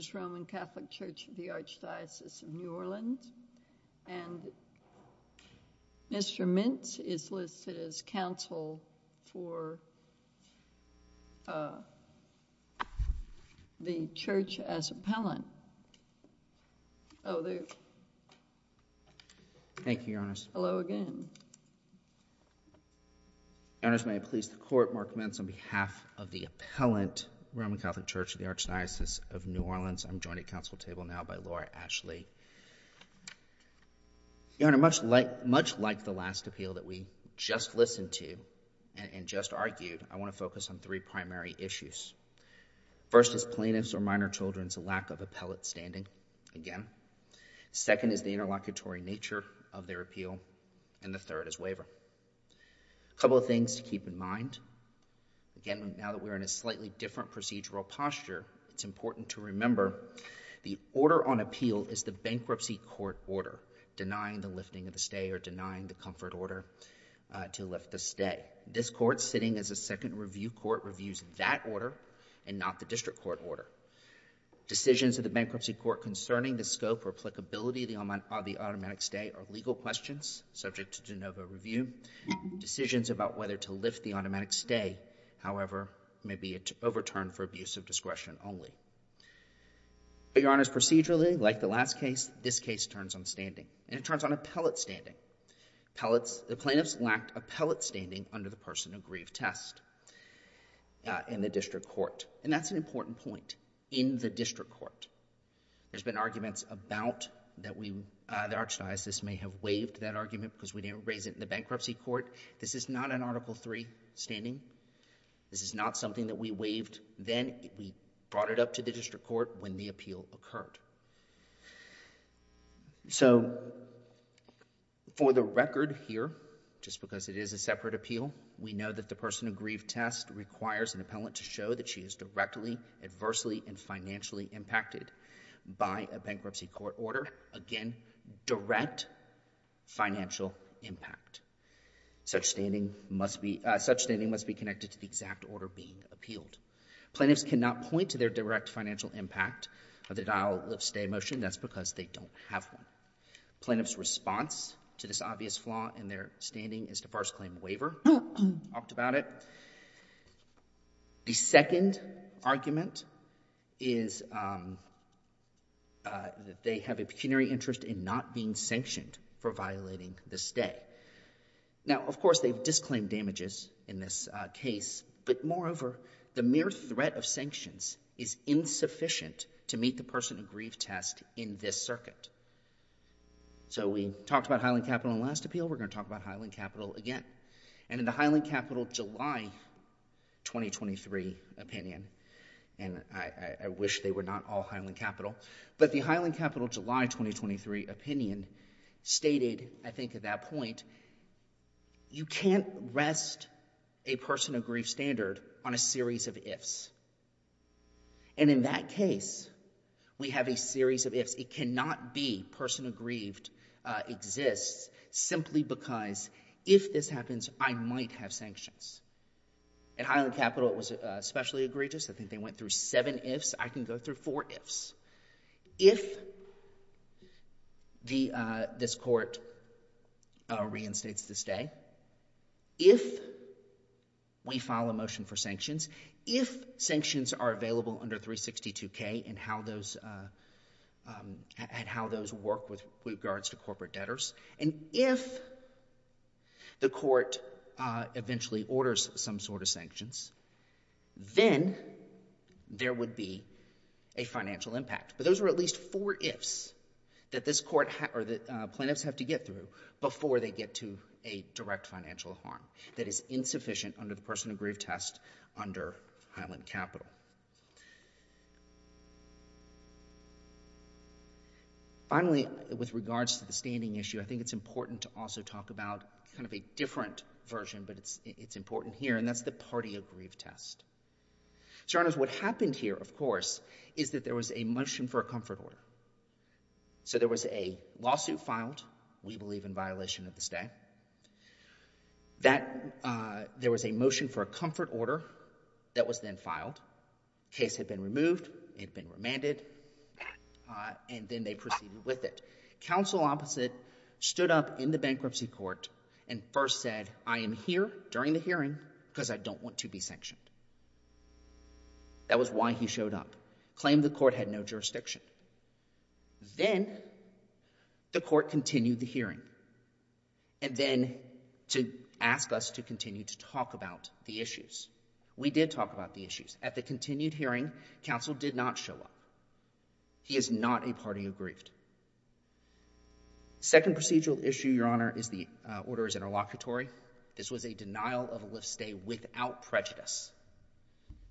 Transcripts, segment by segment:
Church of the Archdiocese of New Orleans. And Mr. Mintz is listed as counsel for the Church as Appellant. Hello again. Thank you, Your Honors. Your Honors, may I please ask the Court, Mark Mintz, on behalf of the Appellant, Roman Catholic Church of the Archdiocese of New Orleans, I'm joined at counsel table now by Laura Ashley. Your Honor, much like the last appeal that we just listened to and just argued, I want to focus on three primary issues. First is plaintiff's or minor children's lack of appellate standing, again. Second is the interlocutory nature of their appeal. And the third is waiver. A couple of things to keep in mind. Again, now that we're in a slightly different procedural posture, it's important to remember the order on appeal is the bankruptcy court order, denying the lifting of the stay or denying the comfort order to lift the stay. This Court, sitting as a second review court, reviews that order and not the district court order. Decisions of the bankruptcy court concerning the scope or applicability of the automatic stay are to lift the automatic stay. However, maybe it's overturned for abuse of discretion only. Your Honors, procedurally, like the last case, this case turns on standing. And it turns on appellate standing. The plaintiffs lacked appellate standing under the person who grieved test in the district court. And that's an important point. In the district court. There's been arguments about that the Archdiocese may have waived that argument because we didn't raise it in the bankruptcy court. This is not an Article III standing. This is not something that we waived then. We brought it up to the district court when the appeal occurred. So for the record here, just because it is a separate appeal, we know that the person who grieved test requires an appellant to show that she is directly, adversely, and Such standing must be connected to the exact order being appealed. Plaintiffs cannot point to their direct financial impact of the dial-up-stay motion. That's because they don't have one. Plaintiffs' response to this obvious flaw in their standing is to first claim a waiver. Talked about it. The second argument is that they have a pecuniary interest in not being Now, of course, they've disclaimed damages in this case. But moreover, the mere threat of sanctions is insufficient to meet the person who grieved test in this circuit. So we talked about Highland Capital in the last appeal. We're going to talk about Highland Capital again. And in the Highland Capital July 2023 opinion, and I wish they were not all Highland Capital, you can't rest a person who grieved standard on a series of ifs. And in that case, we have a series of ifs. It cannot be person who grieved exists simply because if this happens, I might have sanctions. At Highland Capital, it was especially egregious. I think they went through seven ifs. I can go through four ifs. If this court reinstates the stay, if we file a motion for sanctions, if sanctions are available under 362K and how those work with regards to corporate debtors, and if the court eventually orders some sort of sanctions, then there would be a financial impact. But those are at least four ifs that this court or the plaintiffs have to get through before they get to a direct financial harm that is insufficient under the person who grieved test under Highland Capital. Finally, with regards to the standing issue, I think it's important to also talk about kind of a different version, but it's important here, and that's the party who grieved test. Your Honors, what happened here, of course, is that there was a motion for a comfort order. So there was a lawsuit filed, we believe in violation of the stay, that there was a motion for a comfort order that was then filed. Case had been removed, it had been remanded, and then they proceeded with it. Counsel opposite stood up in the bankruptcy court and first said, I am here during the hearing because I don't want to be sanctioned. That was why he showed up. Claimed the court had no jurisdiction. Then the court continued the hearing, and then to ask us to continue to talk about the issues. We did talk about the issues. At the continued hearing, counsel did not show up. He is not a grieved. Second procedural issue, Your Honor, is the order is interlocutory. This was a denial of a lift stay without prejudice.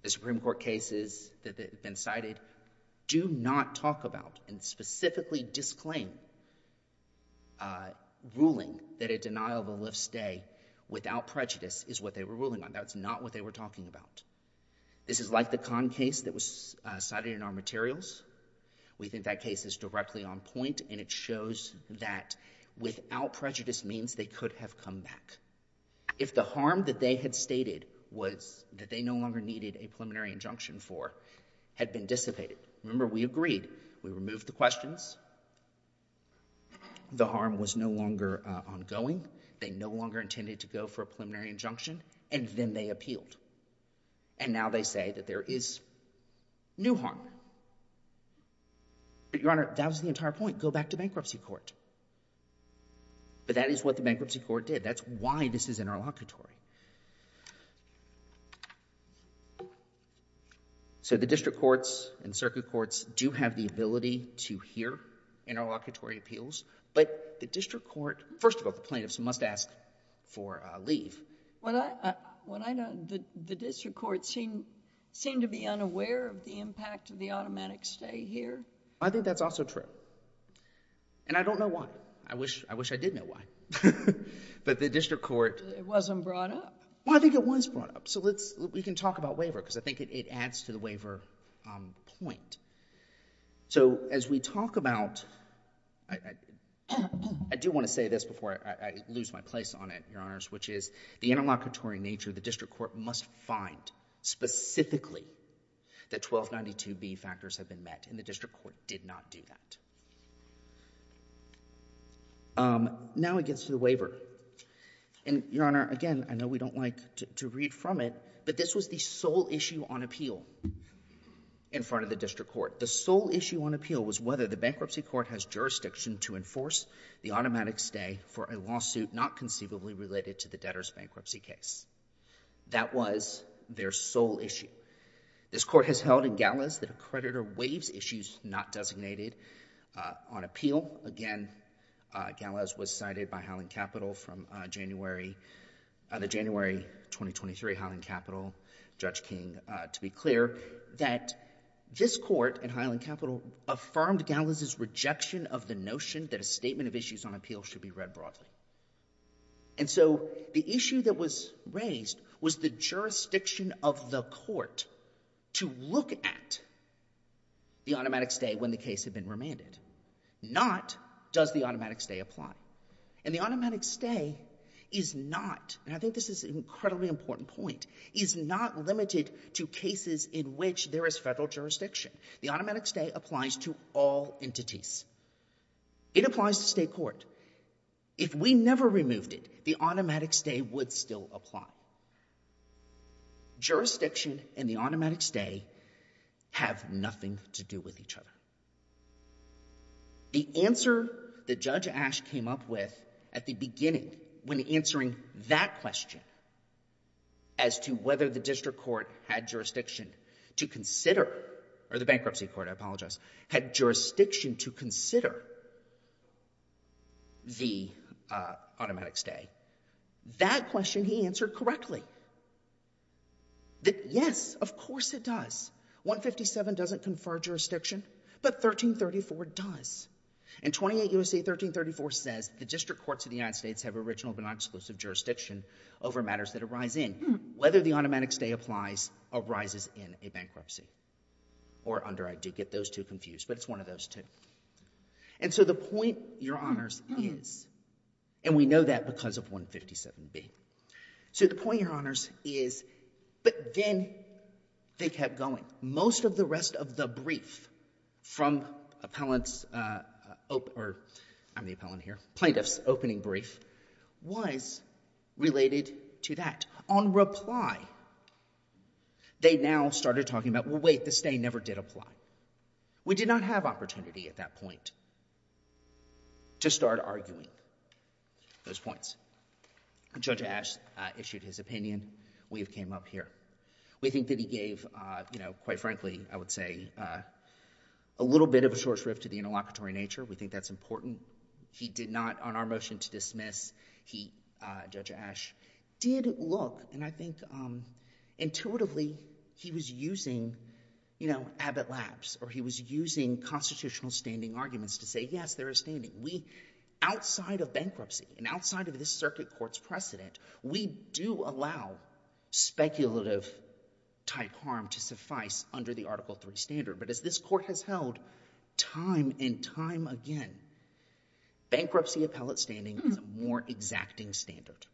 The Supreme Court cases that have been cited do not talk about and specifically disclaim ruling that a denial of a lift stay without prejudice is what they were ruling on. That's not what they were talking about. This is like the con case that was cited in our materials. We think that case is directly on point, and it shows that without prejudice means they could have come back. If the harm that they had stated was that they no longer needed a preliminary injunction for had been dissipated. Remember, we agreed. We removed the questions. The harm was no longer ongoing. They no longer intended to go for a preliminary injunction, and then they appealed, and now they say that there is new harm. But, Your Honor, that was the entire point. Go back to bankruptcy court. But that is what the bankruptcy court did. That's why this is interlocutory. So the district courts and circuit courts do have the ability to hear interlocutory appeals, but the district court, first of all, the plaintiffs must ask for a leave. When I know the district courts seem to be unaware of the impact of the automatic stay here. I think that's also true, and I don't know why. I wish I did know why, but the district court. It wasn't brought up. Well, I think it was brought up, so we can talk about waiver because I think it adds to the waiver point. So as we talk about, I do want to say this before I lose my place on it, Your Honors, which is the interlocutory nature of the district court must find specifically that 1292B factors have been met, and the district court did not do that. Now it gets to the waiver, and Your Honor, again, I know we don't like to read from it, but this was the sole issue on appeal in front of the district court. The sole issue on appeal was whether the bankruptcy court has jurisdiction to enforce the automatic stay for a lawsuit not conceivably related to the debtor's bankruptcy case. That was their sole issue. This court has held in Gallas that a creditor waives issues not designated on appeal. Again, Gallas was cited by Highland Capital from the January 2023 Highland Capital Judge King to be clear that this court in Highland Capital affirmed Gallas' rejection of the notion that a statement of issues on appeal should be read broadly. And so the issue that was raised was the jurisdiction of the court to look at the automatic stay when the case had been remanded. Not does the automatic stay apply. And the automatic stay is not, and I think this is an incredibly important point, is not limited to cases in which there is federal jurisdiction. The automatic stay applies to all entities. It applies to state court. If we never removed it, the automatic stay would still apply. Jurisdiction and the automatic stay have nothing to do with each other. The answer that Judge Ash came up with at the beginning when answering that question as to whether the district court had jurisdiction to consider, or the bankruptcy court, I apologize, had jurisdiction to consider the automatic stay, that question he answered correctly. Yes, of course it does. 157 doesn't confer jurisdiction, but 1334 does. And 28 U.S.A. 1334 says, the district courts of the United States have original but not exclusive jurisdiction over matters that arise in. Whether the automatic stay applies arises in a bankruptcy. Or under, I do get those two confused, but it's one of those two. And so the point, Your Honors, is, and we know that because of 157b, so the point, Your Honors, is, but then they kept going. Most of the rest of the brief from appellant's, or I'm the appellant here, plaintiff's opening brief was related to that. On reply, they now started talking about, well, wait, the stay never did apply. We did not have opportunity at that point to start arguing those points. Judge Ash issued his opinion. We have came up here. We think that he gave, you know, quite frankly, I would say, a little bit of a short shrift to the interlocutory nature. We think that's important. He did not, on our motion to dismiss, he, Judge Ash, did look, and I think intuitively he was using, you know, abbot laps, or he was using constitutional standing arguments to say, yes, there is standing. Outside of bankruptcy and outside of this circuit court's precedent, we do allow speculative-type harm to suffice under the Article III standard, but as this court has held time and time again, bankruptcy appellate standing is a more exacting standard.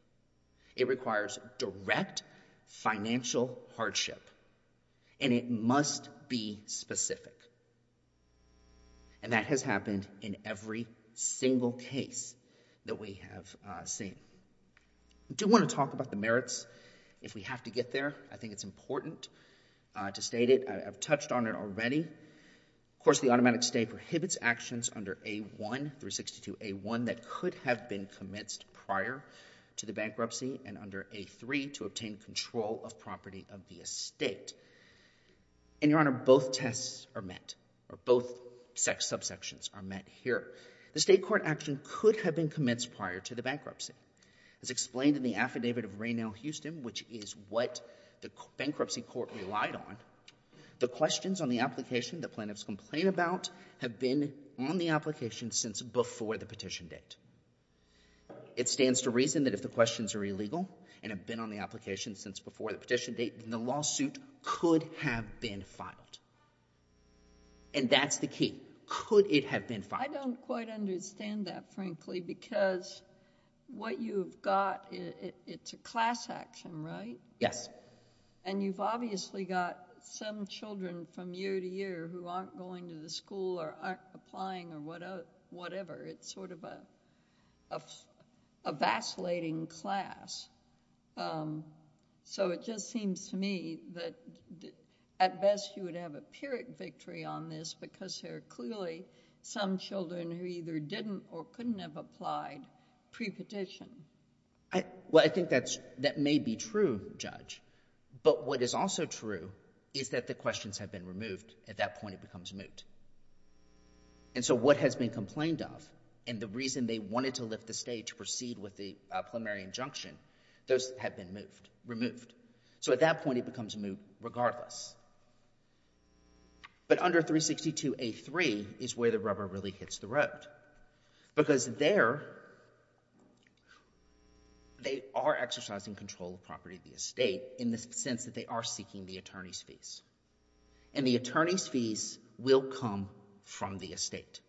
It requires direct financial hardship, and it must be specific, and that has happened in every single case that we have seen. I do want to talk about the merits if we have to get there. I think it's important to state it. I've touched on it already. Of course, the automatic stay prohibits actions under A1 through 62A1 that could have been commenced prior to the bankruptcy and under A3 to obtain control of property of the estate. And, Your Honor, both tests are met, or both subsections are met here. The state court action could have been commenced prior to the bankruptcy. As explained in the affidavit of Raynell-Houston, which is what the bankruptcy court relied on, the questions on the application the plaintiffs complain about have been on the application since before the petition date. It stands to reason that if the questions are illegal and have been on the application since before the petition date, then the lawsuit could have been filed. And that's the key. Could it have been filed? I don't quite understand that, frankly, because what you've got, it's a class action, right? Yes. And you've obviously got some children from year to year who aren't going to the school or aren't applying or whatever. It's sort of a vacillating class. So it just seems to me that at best, you would have a pyrrhic victory on this because there are clearly some children who either didn't or couldn't have applied pre-petition. Well, I think that may be true, Judge. But what is also true is that the questions have been removed. At that point, it becomes moot. And so what has been complained of and the reason they wanted to lift the state to proceed with the preliminary injunction, those have been moved, removed. So at that point, it becomes moot regardless. But under 362A3 is where the rubber really hits the road because there they are exercising control of property of the estate in the sense that they are seeking the attorney's fees. And the attorney's fees will come from the estate.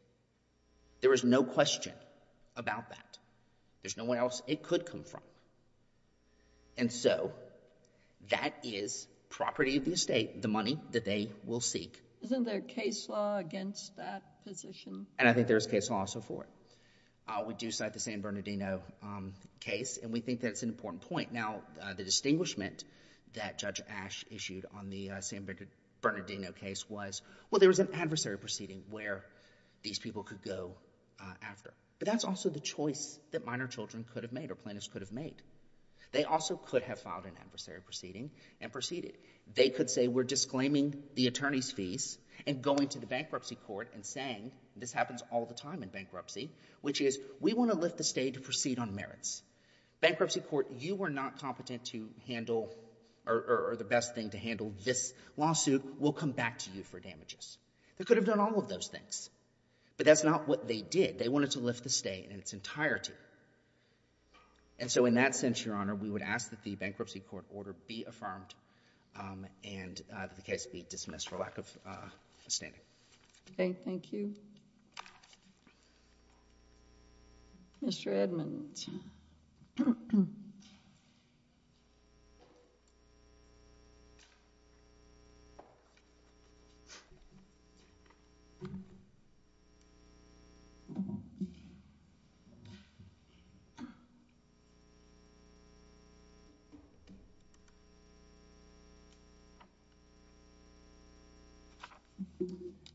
There is no question about that. There's no one else it could come from. And so that is property of the estate, the money that they will seek. Isn't there case law against that position? And I think there is case law for it. We do cite the San Bernardino case and we think that's an important point. The distinguishment that Judge Ashe issued on the San Bernardino case was, well, there was an adversary proceeding where these people could go after. But that's also the choice that minor children could have made or plaintiffs could have made. They also could have filed an adversary proceeding and proceeded. They could say we're disclaiming the attorney's fees and going to the bankruptcy court and saying, this happens all the time in bankruptcy, which is we want to lift the state to proceed on merits. Bankruptcy court, you were not competent to handle or the best thing to handle this lawsuit. We'll come back to you for damages. They could have done all of those things. But that's not what they did. They wanted to lift the state in its entirety. And so in that sense, Your Honor, we would ask that the bankruptcy court order be affirmed and the case be dismissed for lack of standing. Okay. Thank you. Mr. Edmonds.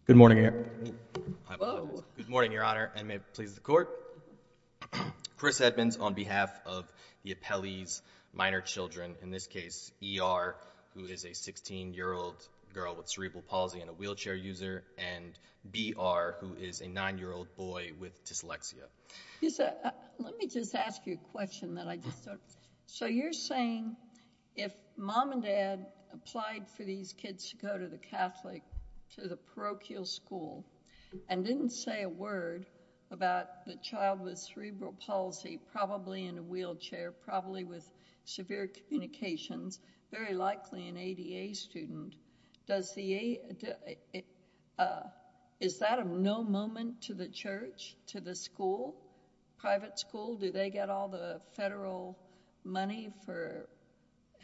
Good morning, Your Honor. Good morning, Your Honor, and may it please the court. Chris Edmonds on behalf of the appellee's minor children, in this case, ER, who is a 16-year-old girl with cerebral palsy and a wheelchair user, and BR, who is a nine-year-old boy with dyslexia. Let me just ask you a question that I just thought. So you're saying if mom and dad applied for these kids to go to the Catholic, to the parochial school, and didn't say a word about the child with cerebral palsy, probably in a wheelchair, probably with severe communications, very likely an ADA student, does the—is that of no moment to the church, to the school, private school? Do they get all the federal money for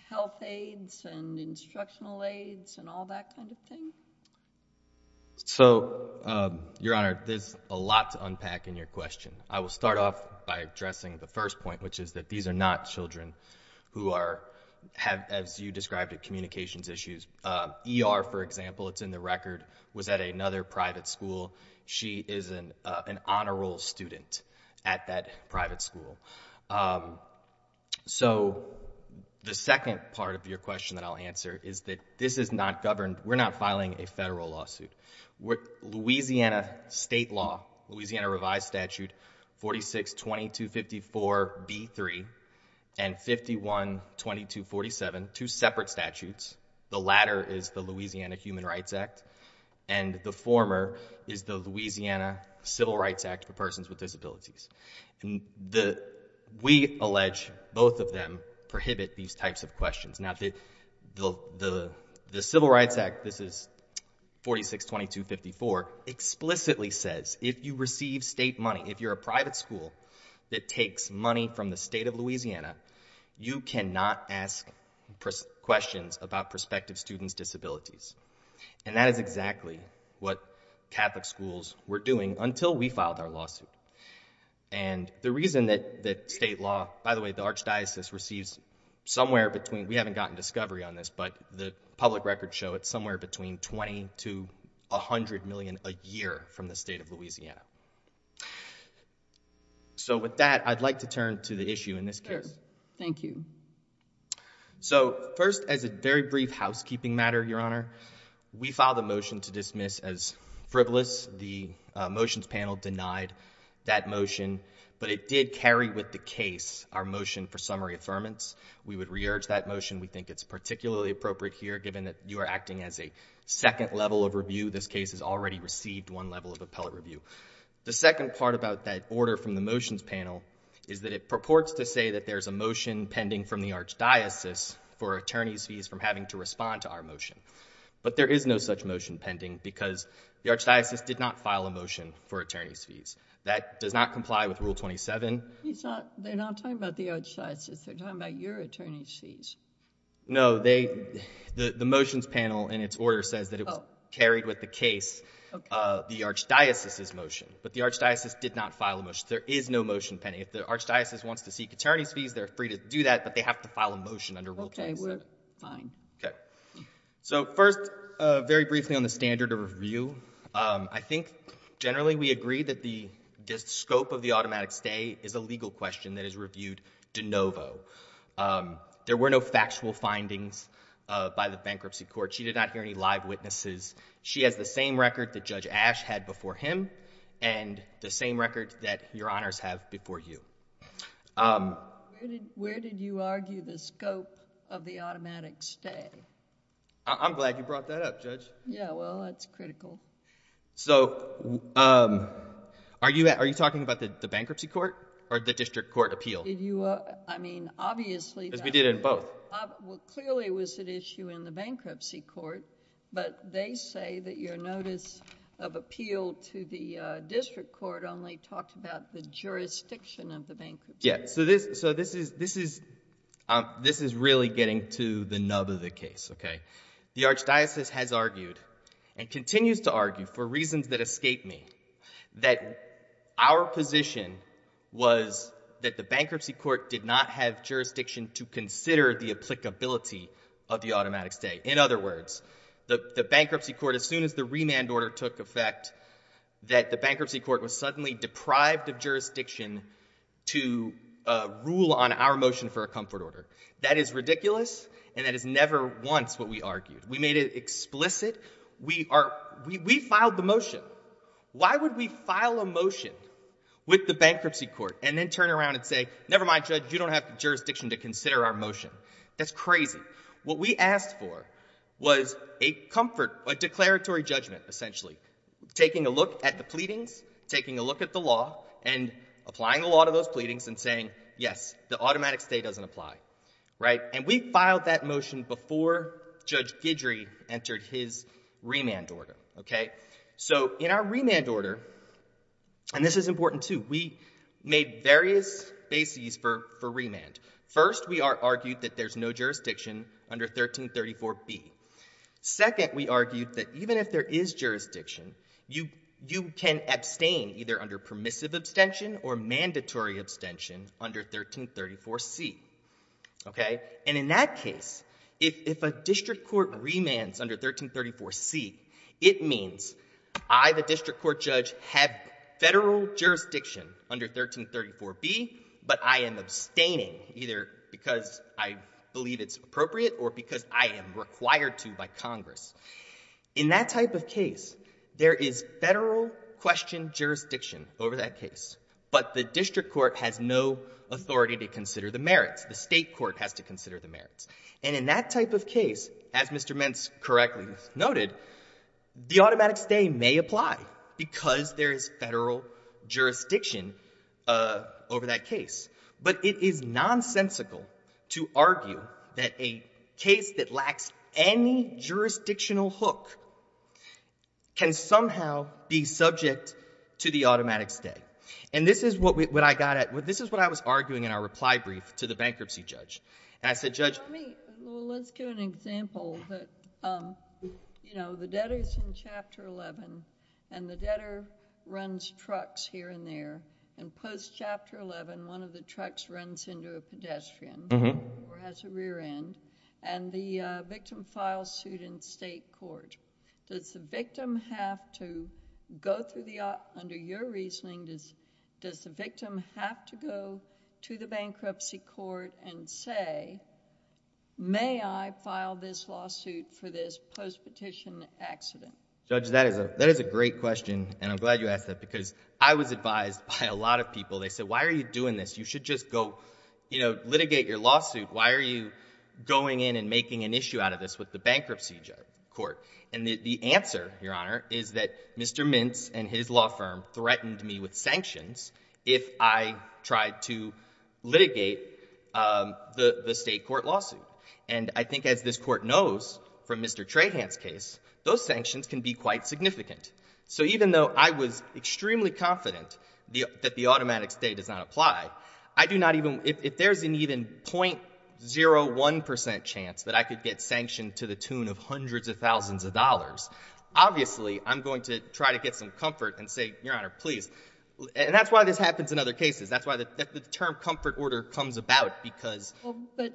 health aids and instructional aids and all that kind of thing? So, Your Honor, there's a lot to unpack in your question. I will start off by addressing the first point, which is that these are not children who are—have, as you described it, communications issues. ER, for example, it's in the record, was at another private school. She is an honor roll student at that private school. So the second part of your question that I'll answer is that this is not governed—we're not filing a federal lawsuit. Louisiana state law, Louisiana revised statute 46-2254-B3 and 51-2247, two separate statutes, the latter is the Louisiana Human Rights Act, and the former is the Louisiana Civil Rights Act for Persons with Disabilities. We allege both of them prohibit these types of questions. Now, the Civil Rights Act, this is 46-2254, explicitly says if you receive state money, if you're a private school that takes money from the state of Louisiana, you cannot ask questions about prospective students' disabilities. And that is exactly what Catholic schools were doing until we filed our lawsuit. And the reason that state law—by the way, the archdiocese receives somewhere between—we haven't gotten discovery on this, but the public records show it's somewhere between $20 million to $100 million a year from the state of Louisiana. So with that, I'd like to turn to the issue in this case. Sure, thank you. So first, as a very brief housekeeping matter, Your Honor, we filed a motion to dismiss as frivolous. The motions panel denied that motion, but it did carry with the case our motion for we would re-urge that motion. We think it's particularly appropriate here given that you are acting as a second level of review. This case has already received one level of appellate review. The second part about that order from the motions panel is that it purports to say that there's a motion pending from the archdiocese for attorneys' fees from having to respond to our motion. But there is no such motion pending because the archdiocese did not file a motion for attorneys' fees. That does not comply with Rule 27. He's not—they're not talking about the archdiocese. They're talking about your attorneys' fees. No, they—the motions panel in its order says that it was carried with the case the archdiocese's motion, but the archdiocese did not file a motion. There is no motion pending. If the archdiocese wants to seek attorneys' fees, they're free to do that, but they have to file a motion under Rule 27. Okay, we're fine. Okay. So first, very briefly on the standard of review, I think generally we agree that the scope of the automatic stay is a legal question that is reviewed de novo. There were no factual findings by the bankruptcy court. She did not hear any live witnesses. She has the same record that Judge Ash had before him and the same record that Your Honors have before you. Where did you argue the scope of the automatic stay? I'm glad you brought that up, Judge. Yeah, well, that's critical. So are you talking about the bankruptcy court or the district court appeal? Did you—I mean, obviously— Because we did it in both. Well, clearly it was an issue in the bankruptcy court, but they say that your notice of appeal to the district court only talked about the jurisdiction of the bankruptcy. Yeah, so this is really getting to the nub of the case, okay? The Archdiocese has argued and continues to argue, for reasons that escape me, that our position was that the bankruptcy court did not have jurisdiction to consider the applicability of the automatic stay. In other words, the bankruptcy court, as soon as the remand order took effect, that the bankruptcy court was suddenly deprived of jurisdiction to rule on our motion for a comfort order. That is ridiculous, and that is never once what we argued. We made it explicit. We filed the motion. Why would we file a motion with the bankruptcy court and then turn around and say, never mind, Judge, you don't have jurisdiction to consider our motion? That's crazy. What we asked for was a comfort, a declaratory judgment, essentially, taking a look at the pleadings, taking a look at the law, and applying the law to those pleadings and saying, yes, the automatic stay doesn't apply. And we filed that motion before Judge Guidry entered his remand order, okay? So in our remand order, and this is important, too, we made various bases for remand. First, we argued that there's no jurisdiction under 1334B. Second, we argued that even if there is jurisdiction, you can abstain either under permissive abstention or mandatory abstention under 1334C, okay? And in that case, if a district court remands under 1334C, it means I, the district court judge, have federal jurisdiction under 1334B, but I am abstaining either because I believe it's appropriate or because I am required to by Congress. In that type of case, there is federal question jurisdiction over that case, but the district court has no authority to consider the merits. The state court has to consider the merits. And in that type of case, as Mr. Mentz correctly noted, the automatic stay may apply because there is federal jurisdiction over that case. But it is nonsensical to argue that a case that lacks any jurisdictional hook can somehow be subject to the automatic stay. And this is what I got at. This is what I was arguing in our reply brief to the bankruptcy judge. And I said, Judge, let's give an example that, you know, the debtor is in Chapter 11, one of the trucks runs into a pedestrian or has a rear end, and the victim files suit in state court. Does the victim have to go through the, under your reasoning, does the victim have to go to the bankruptcy court and say, may I file this lawsuit for this post-petition accident? Judge, that is a great question, and I'm glad you asked that, because I was advised by a lot of people. They said, why are you doing this? You should just go, you know, litigate your lawsuit. Why are you going in and making an issue out of this with the bankruptcy court? And the answer, Your Honor, is that Mr. Mentz and his law firm threatened me with sanctions if I tried to litigate the state court lawsuit. And I think, as this Court knows from Mr. Trahan's case, those sanctions can be quite significant. So even though I was extremely confident that the automatic state does not apply, I do not even, if there's an even .01 percent chance that I could get sanctioned to the tune of hundreds of thousands of dollars, obviously, I'm going to try to get some comfort and say, Your Honor, please. And that's why this happens in other cases. That's why the term comfort order comes about, because. Well, but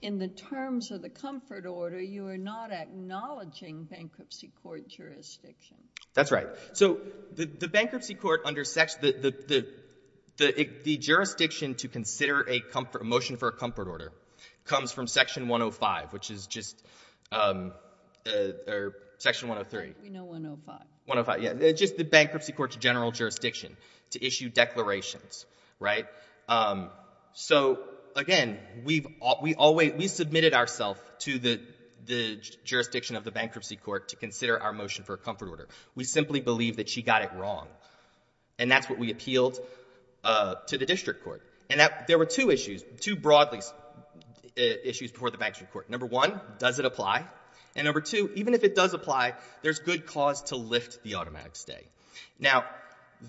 in the terms of the comfort order, you are not acknowledging bankruptcy court jurisdiction. That's right. So the bankruptcy court under section, the jurisdiction to consider a motion for a comfort order comes from section 105, which is just, or section 103. We know 105. 105, yeah. Just the bankruptcy court's general jurisdiction to issue declarations, right? So again, we've always, we submitted ourselves to the jurisdiction of the bankruptcy court to consider our motion for a comfort order. We simply believe that she got it wrong. And that's what we appealed to the district court. And there were two issues, two broadly issues before the bankruptcy court. Number one, does it apply? And number two, even if it does apply, there's good cause to lift the automatic stay. Now,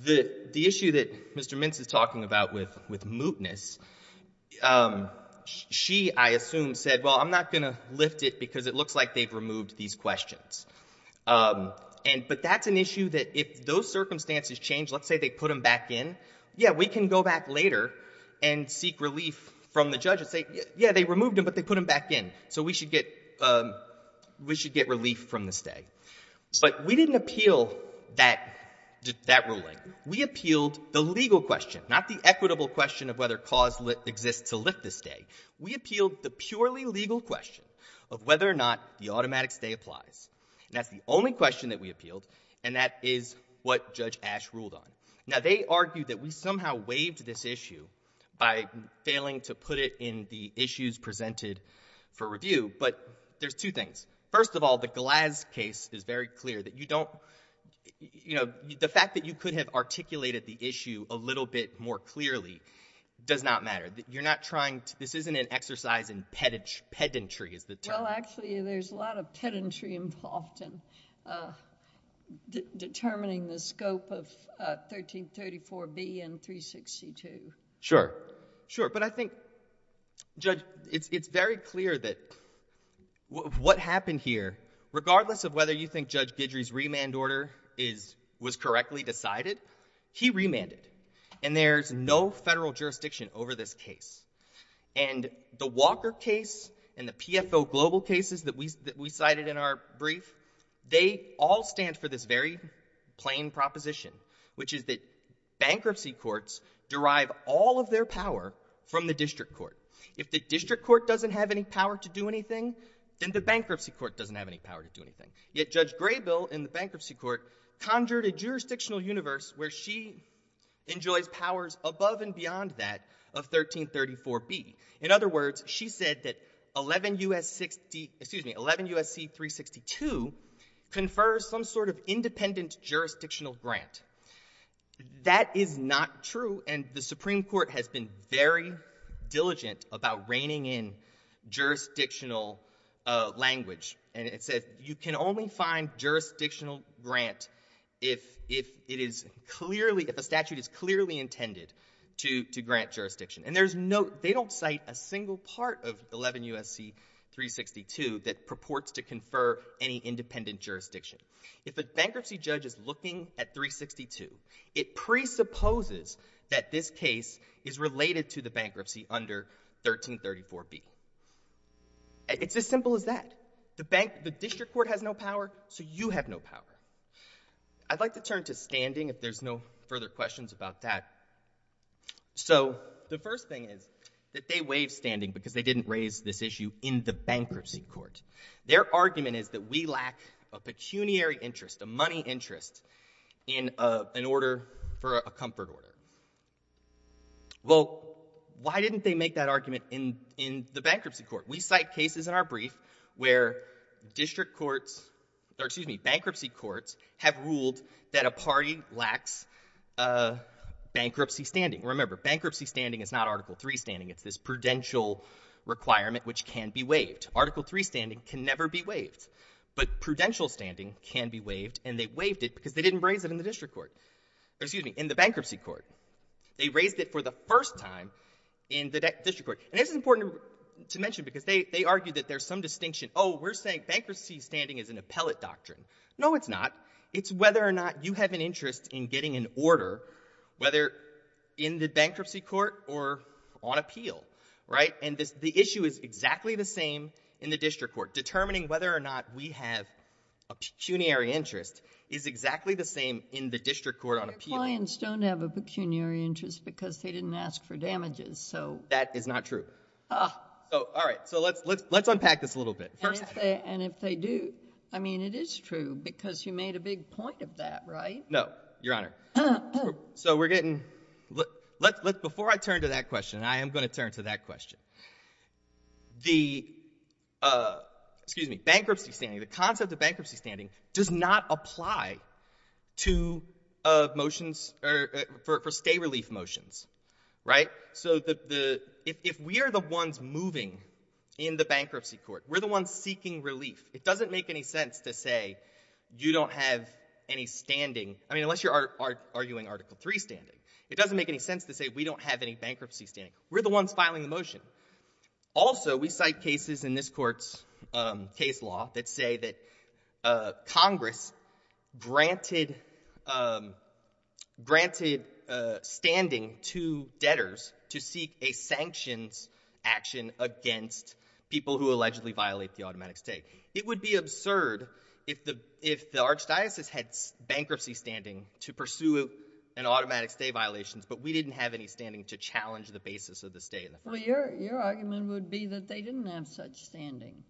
the issue that Mr. Mintz is talking about with mootness, she, I assume, said, well, I'm not going to lift it because it looks like they've removed these questions. But that's an issue that if those circumstances change, let's say they put them back in, yeah, we can go back later and seek relief from the judge and say, yeah, they removed them, but they put them back in. So we should get relief from the stay. But we didn't appeal that ruling. We appealed the legal question, not the equitable question of whether cause exists to lift the stay. We appealed the purely legal question of whether or not the automatic stay applies. And that's the only question that we appealed. And that is what Judge Ash ruled on. Now, they argued that we somehow waived this issue by failing to put it in the issues presented for review. But there's two things. First of all, the Glaz case is very clear that you don't, you know, the fact that you could have articulated the issue a little bit more clearly does not matter. You're not trying to, this isn't an exercise in pedantry is the term. Well, actually, there's a lot of pedantry involved in determining the scope of 1334B and 362. Sure. Sure. But I think, Judge, it's very clear that what happened here, regardless of whether you think Judge Guidry's remand order was correctly decided, he remanded. And there's no federal jurisdiction over this case. And the Walker case and the PFO global cases that we cited in our brief, they all stand for this very plain proposition, which is that bankruptcy courts derive all of their power from the district court. If the district court doesn't have any power to do anything, then the bankruptcy court doesn't have any power to do anything. Yet Judge Graybill in the bankruptcy court conjured a jurisdictional universe where she enjoys powers above and beyond that of 1334B. In other words, she said that 11 U.S. 60, excuse me, 11 U.S.C. 362 confers some sort of independent jurisdictional grant. That is not true. And the Supreme Court has been very diligent about reining in jurisdictional language. And it says you can only find jurisdictional grant if it is clearly, if a statute is clearly intended to grant jurisdiction. And there's no, they don't cite a single part of 11 U.S.C. 362 that purports to confer any independent jurisdiction. If a bankruptcy judge is looking at 362, it presupposes that this case is related to the bankruptcy under 1334B. It's as simple as that. The bank, the district court has no power, so you have no power. I'd like to turn to standing, if there's no further questions about that. So the first thing is that they waive standing because they didn't raise this issue in the bankruptcy court. Their argument is that we lack a pecuniary interest, a money interest in an order for a comfort order. Well, why didn't they make that argument in the bankruptcy court? We cite cases in our brief where district courts, or excuse me, bankruptcy courts have ruled that a party lacks bankruptcy standing. Remember, bankruptcy standing is not Article III standing. It's this prudential requirement which can be waived. Article III standing can never be waived. But prudential standing can be waived, and they waived it because they didn't raise it in the district court, or excuse me, in the bankruptcy court. They raised it for the first time in the district court. And this is important to mention because they argue that there's some distinction. Oh, we're saying bankruptcy standing is an appellate doctrine. No, it's not. It's whether or not you have an interest in getting an order, whether in the bankruptcy court or on appeal, right? The issue is exactly the same in the district court. Determining whether or not we have a pecuniary interest is exactly the same in the district court on appeal. Your clients don't have a pecuniary interest because they didn't ask for damages, so. That is not true. All right, so let's unpack this a little bit. And if they do, I mean, it is true because you made a big point of that, right? No, Your Honor. Before I turn to that question, I am going to turn to that question. The, excuse me, bankruptcy standing, the concept of bankruptcy standing does not apply to motions or for stay relief motions, right? So if we are the ones moving in the bankruptcy court, we're the ones seeking relief. It doesn't make any sense to say you don't have any standing. I mean, unless you're arguing Article 3 standing. It doesn't make any sense to say we don't have any bankruptcy standing. We're the ones filing the motion. Also, we cite cases in this court's case law that say that Congress granted standing to debtors to seek a sanctions action against people who allegedly violate the automatic stay. It would be absurd if the archdiocese had bankruptcy standing to pursue an automatic stay violations, but we didn't have any standing to challenge the basis of the stay. Well, your argument would be that they didn't have such standing.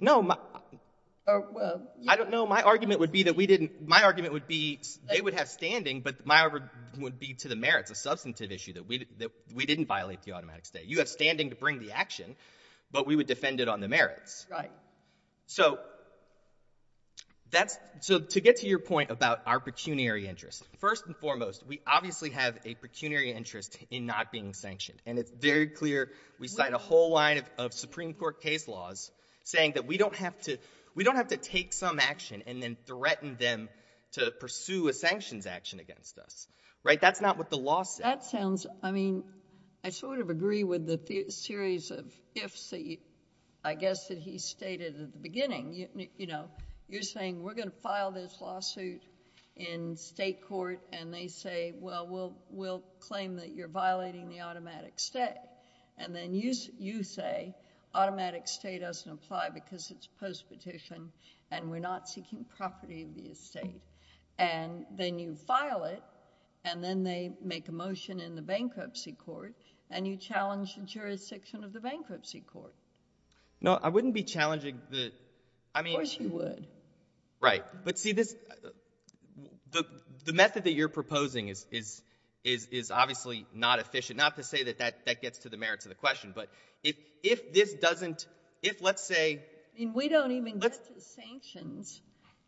No, I don't know. My argument would be that we didn't, my argument would be they would have standing, but my argument would be to the merits, a substantive issue that we didn't violate the automatic stay. You have standing to bring the action, but we would defend it on the merits. Right. So that's, so to get to your point about our pecuniary interest, first and foremost, we obviously have a pecuniary interest in not being sanctioned, and it's very clear we cite a whole line of Supreme Court case laws saying that we don't have to, we don't have to take some action and then threaten them to pursue a sanctions action against us. Right. That's not what the law says. That sounds, I mean, I sort of agree with the series of ifs that you, I guess that he stated at the beginning, you know, you're saying we're going to file this lawsuit in state court and they say, well, we'll, we'll claim that you're violating the automatic stay, and then you, you say automatic stay doesn't apply because it's postpetition and we're not seeking property of the estate, and then you file it and then they make a motion in the bankruptcy court and you challenge the jurisdiction of the bankruptcy court. No, I wouldn't be challenging the, I mean... Of course you would. Right. But see, this, the, the method that you're proposing is, is, is, is obviously not efficient, not to say that that, that gets to the merits of the question, but if, if this doesn't, if let's say... I mean, we don't even get to sanctions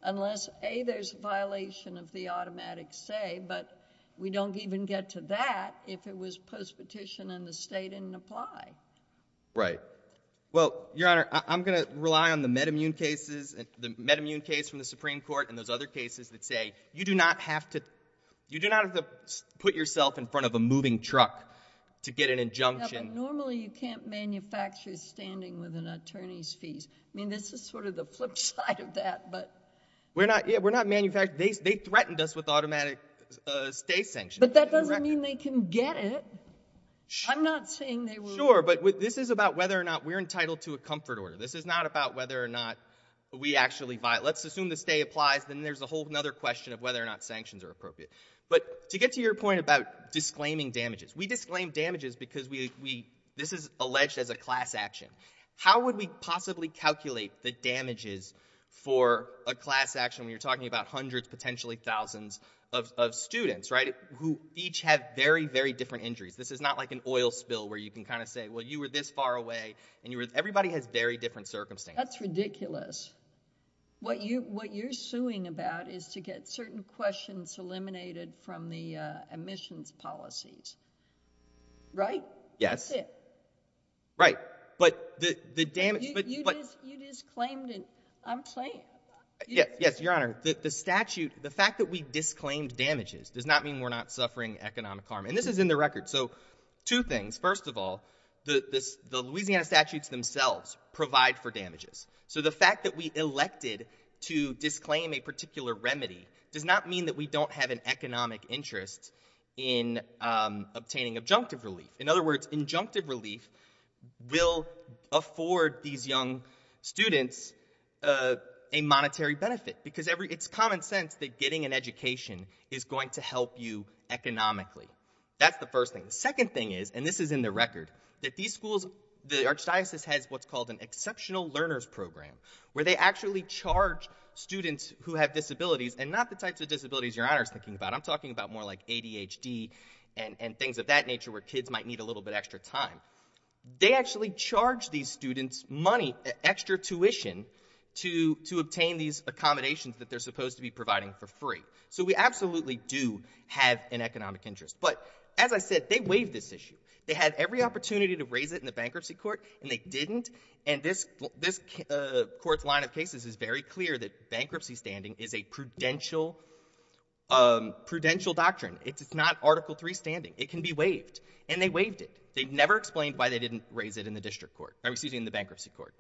unless, A, there's a violation of the automatic stay, but we don't even get to that if it was postpetition and the state didn't apply. Right. Well, Your Honor, I, I'm going to rely on the MedImmune cases, the MedImmune case from the Supreme Court and those other cases that say, you do not have to, you do not have to put yourself in front of a moving truck to get an injunction. Normally you can't manufacture standing with an attorney's fees. I mean, this is sort of the flip side of that, but... We're not, yeah, we're not manufacturing, they, they threatened us with automatic stay sanctions. But that doesn't mean they can get it. I'm not saying they will. Sure, but this is about whether or not we're entitled to a comfort order. This is not about whether or not we actually violate... Let's assume the stay applies, then there's a whole other question of whether or not sanctions are appropriate. But to get to your point about disclaiming damages, we disclaim damages because we, we, this is alleged as a class action. How would we possibly calculate the damages for a class action when you're talking about hundreds, potentially thousands of, of students, right, who each have very, very different injuries? This is not like an oil spill where you can kind of say, well, you were this far away and you were, everybody has very different circumstances. That's ridiculous. What you, what you're suing about is to get certain questions eliminated from the, uh, admissions policies, right? Yes. Right. But the, the damage... But you just, you just claimed it. I'm playing. Yes, Your Honor, the, the statute, the fact that we disclaimed damages does not mean we're not suffering economic harm. And this is in the record. So two things. First of all, the, this, the Louisiana statutes themselves provide for damages. So the fact that we elected to disclaim a particular remedy does not mean that we don't have an economic interest in, um, obtaining adjunctive relief. In other words, adjunctive relief will afford these young students, uh, a monetary benefit because every, it's common sense that getting an education is going to help you economically. That's the first thing. Second thing is, and this is in the record, that these schools, the archdiocese has what's called an exceptional learners program where they actually charge students who have disabilities and not the types of disabilities Your Honor is thinking about. I'm talking about more like ADHD and, and things of that nature where kids might need a little bit extra time. They actually charge these students money, extra tuition to, to obtain these accommodations that they're supposed to be providing for free. So we absolutely do have an economic interest. But as I said, they waived this issue. They had every opportunity to raise it in the bankruptcy court and they didn't. And this, this, uh, court's line of cases is very clear that bankruptcy standing is a prudential, um, prudential doctrine. It's not Article III standing. It can be waived. And they waived it. They never explained why they didn't raise it in the district court, excuse me, in the bankruptcy court.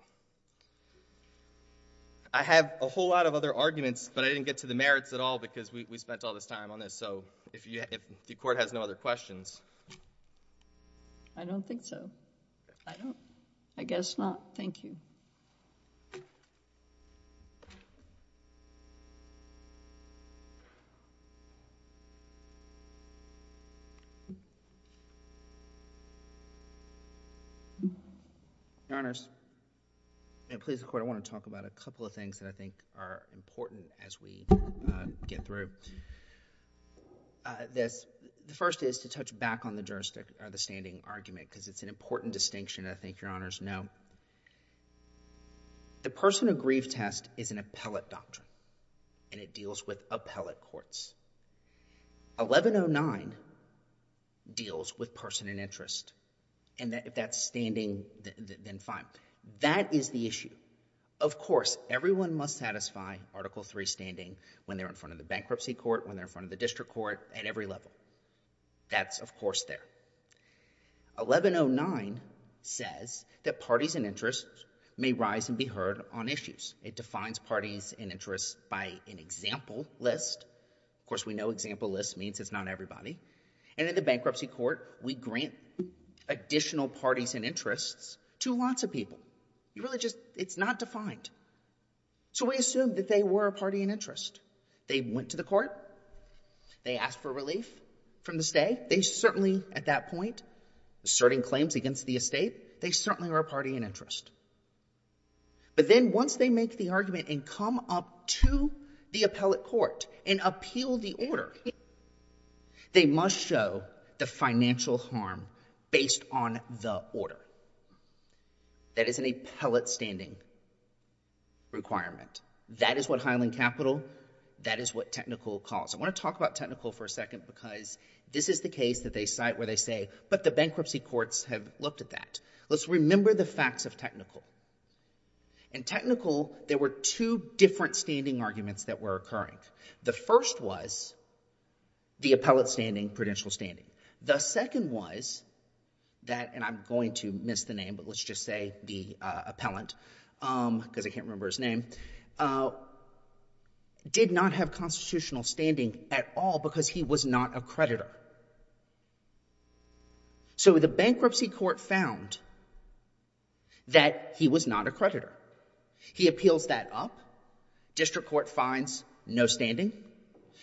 I have a whole lot of other arguments, but I didn't get to the merits at all because we, we spent all this time on this. So if you, if the court has no other questions...... I don't think so. I don't. I guess not. Thank you. Your Honors, and please record, I want to talk about a couple of things that I think are important as we, uh, get through. Uh, this, the first is to touch back on the jurisdiction, or the standing argument, because it's an important distinction, I think Your Honors know. The person who grieved test is an appellate doctrine, and it deals with appellate courts. 1109 deals with person in interest. And that, if that's standing, then fine. That is the issue. Of course, everyone must satisfy Article III standing when they're in front of the court at every level. That's, of course, there. 1109 says that parties in interest may rise and be heard on issues. It defines parties in interest by an example list. Of course, we know example list means it's not everybody. And in the bankruptcy court, we grant additional parties in interest to lots of people. You really just, it's not defined. So we assume that they were a party in interest. They went to the court. They asked for relief from the stay. They certainly, at that point, asserting claims against the estate. They certainly are a party in interest. But then once they make the argument and come up to the appellate court and appeal the order, they must show the financial harm based on the order. That is an appellate standing requirement. That is what Highland Capital. That is what Technical calls. I want to talk about Technical for a second because this is the case that they cite where they say, but the bankruptcy courts have looked at that. Let's remember the facts of Technical. In Technical, there were two different standing arguments that were occurring. The first was the appellate standing, prudential standing. The second was that, and I'm going to miss the name, but let's just say the appellant because I can't remember his name. Did not have constitutional standing at all because he was not a creditor. So the bankruptcy court found that he was not a creditor. He appeals that up. District court finds no standing.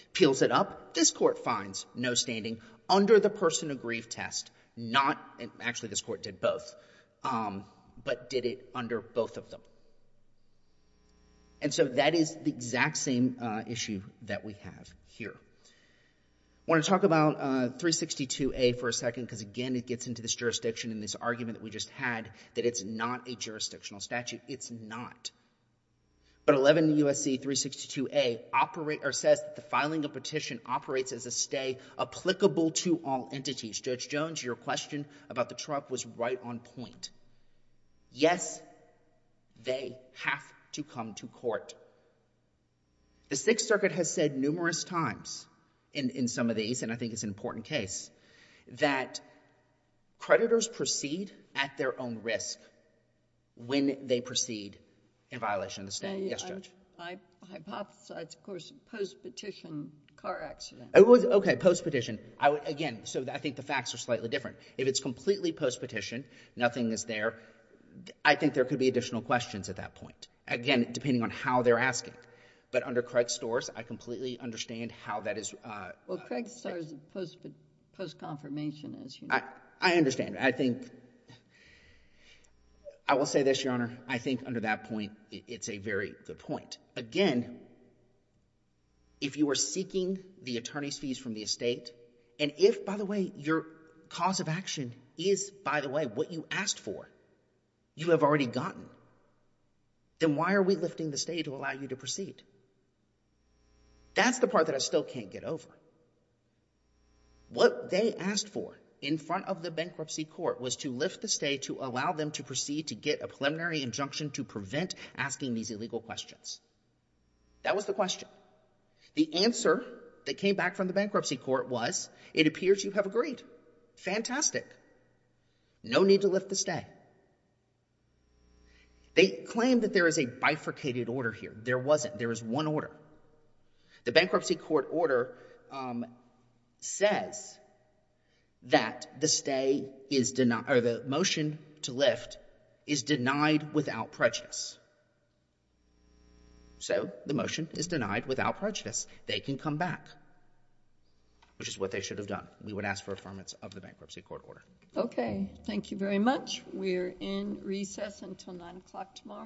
Appeals it up. This court finds no standing under the person of grief test. Not, actually this court did both, but did it under both of them. And so that is the exact same issue that we have here. I want to talk about 362A for a second because again, it gets into this jurisdiction and this argument that we just had that it's not a jurisdictional statute. It's not. But 11 U.S.C. 362A says that the filing of petition operates as a stay applicable to all entities. Judge Jones, your question about the truck was right on point. Yes, they have to come to court. The Sixth Circuit has said numerous times in some of these, and I think it's an important case, that creditors proceed at their own risk when they proceed in violation of the standing. Yes, Judge. I hypothesize, of course, post-petition car accident. Okay, post-petition. I would, again, so I think the facts are slightly different. If it's completely post-petition, nothing is there, I think there could be additional questions at that point. Again, depending on how they're asking. But under Craig Storrs, I completely understand how that is. Well, Craig Storrs is post-confirmation, as you know. I understand. I think, I will say this, Your Honor. I think under that point, it's a very good point. Again, if you are seeking the attorney's fees from the estate, and if, by the way, your cause of action is, by the way, what you asked for, you have already gotten, then why are we lifting the stay to allow you to proceed? That's the part that I still can't get over. What they asked for in front of the bankruptcy court was to lift the stay to allow them to proceed to get a preliminary injunction to prevent asking these illegal questions. That was the question. The answer that came back from the bankruptcy court was, it appears you have agreed. Fantastic. No need to lift the stay. They claim that there is a bifurcated order here. There wasn't. There is one order. The bankruptcy court order says that the stay is denied, or the motion to lift is denied without prejudice. So the motion is denied without prejudice. They can come back, which is what they should have done. We would ask for affirmance of the bankruptcy court order. OK. Thank you very much. We are in recess until 9 o'clock tomorrow morning.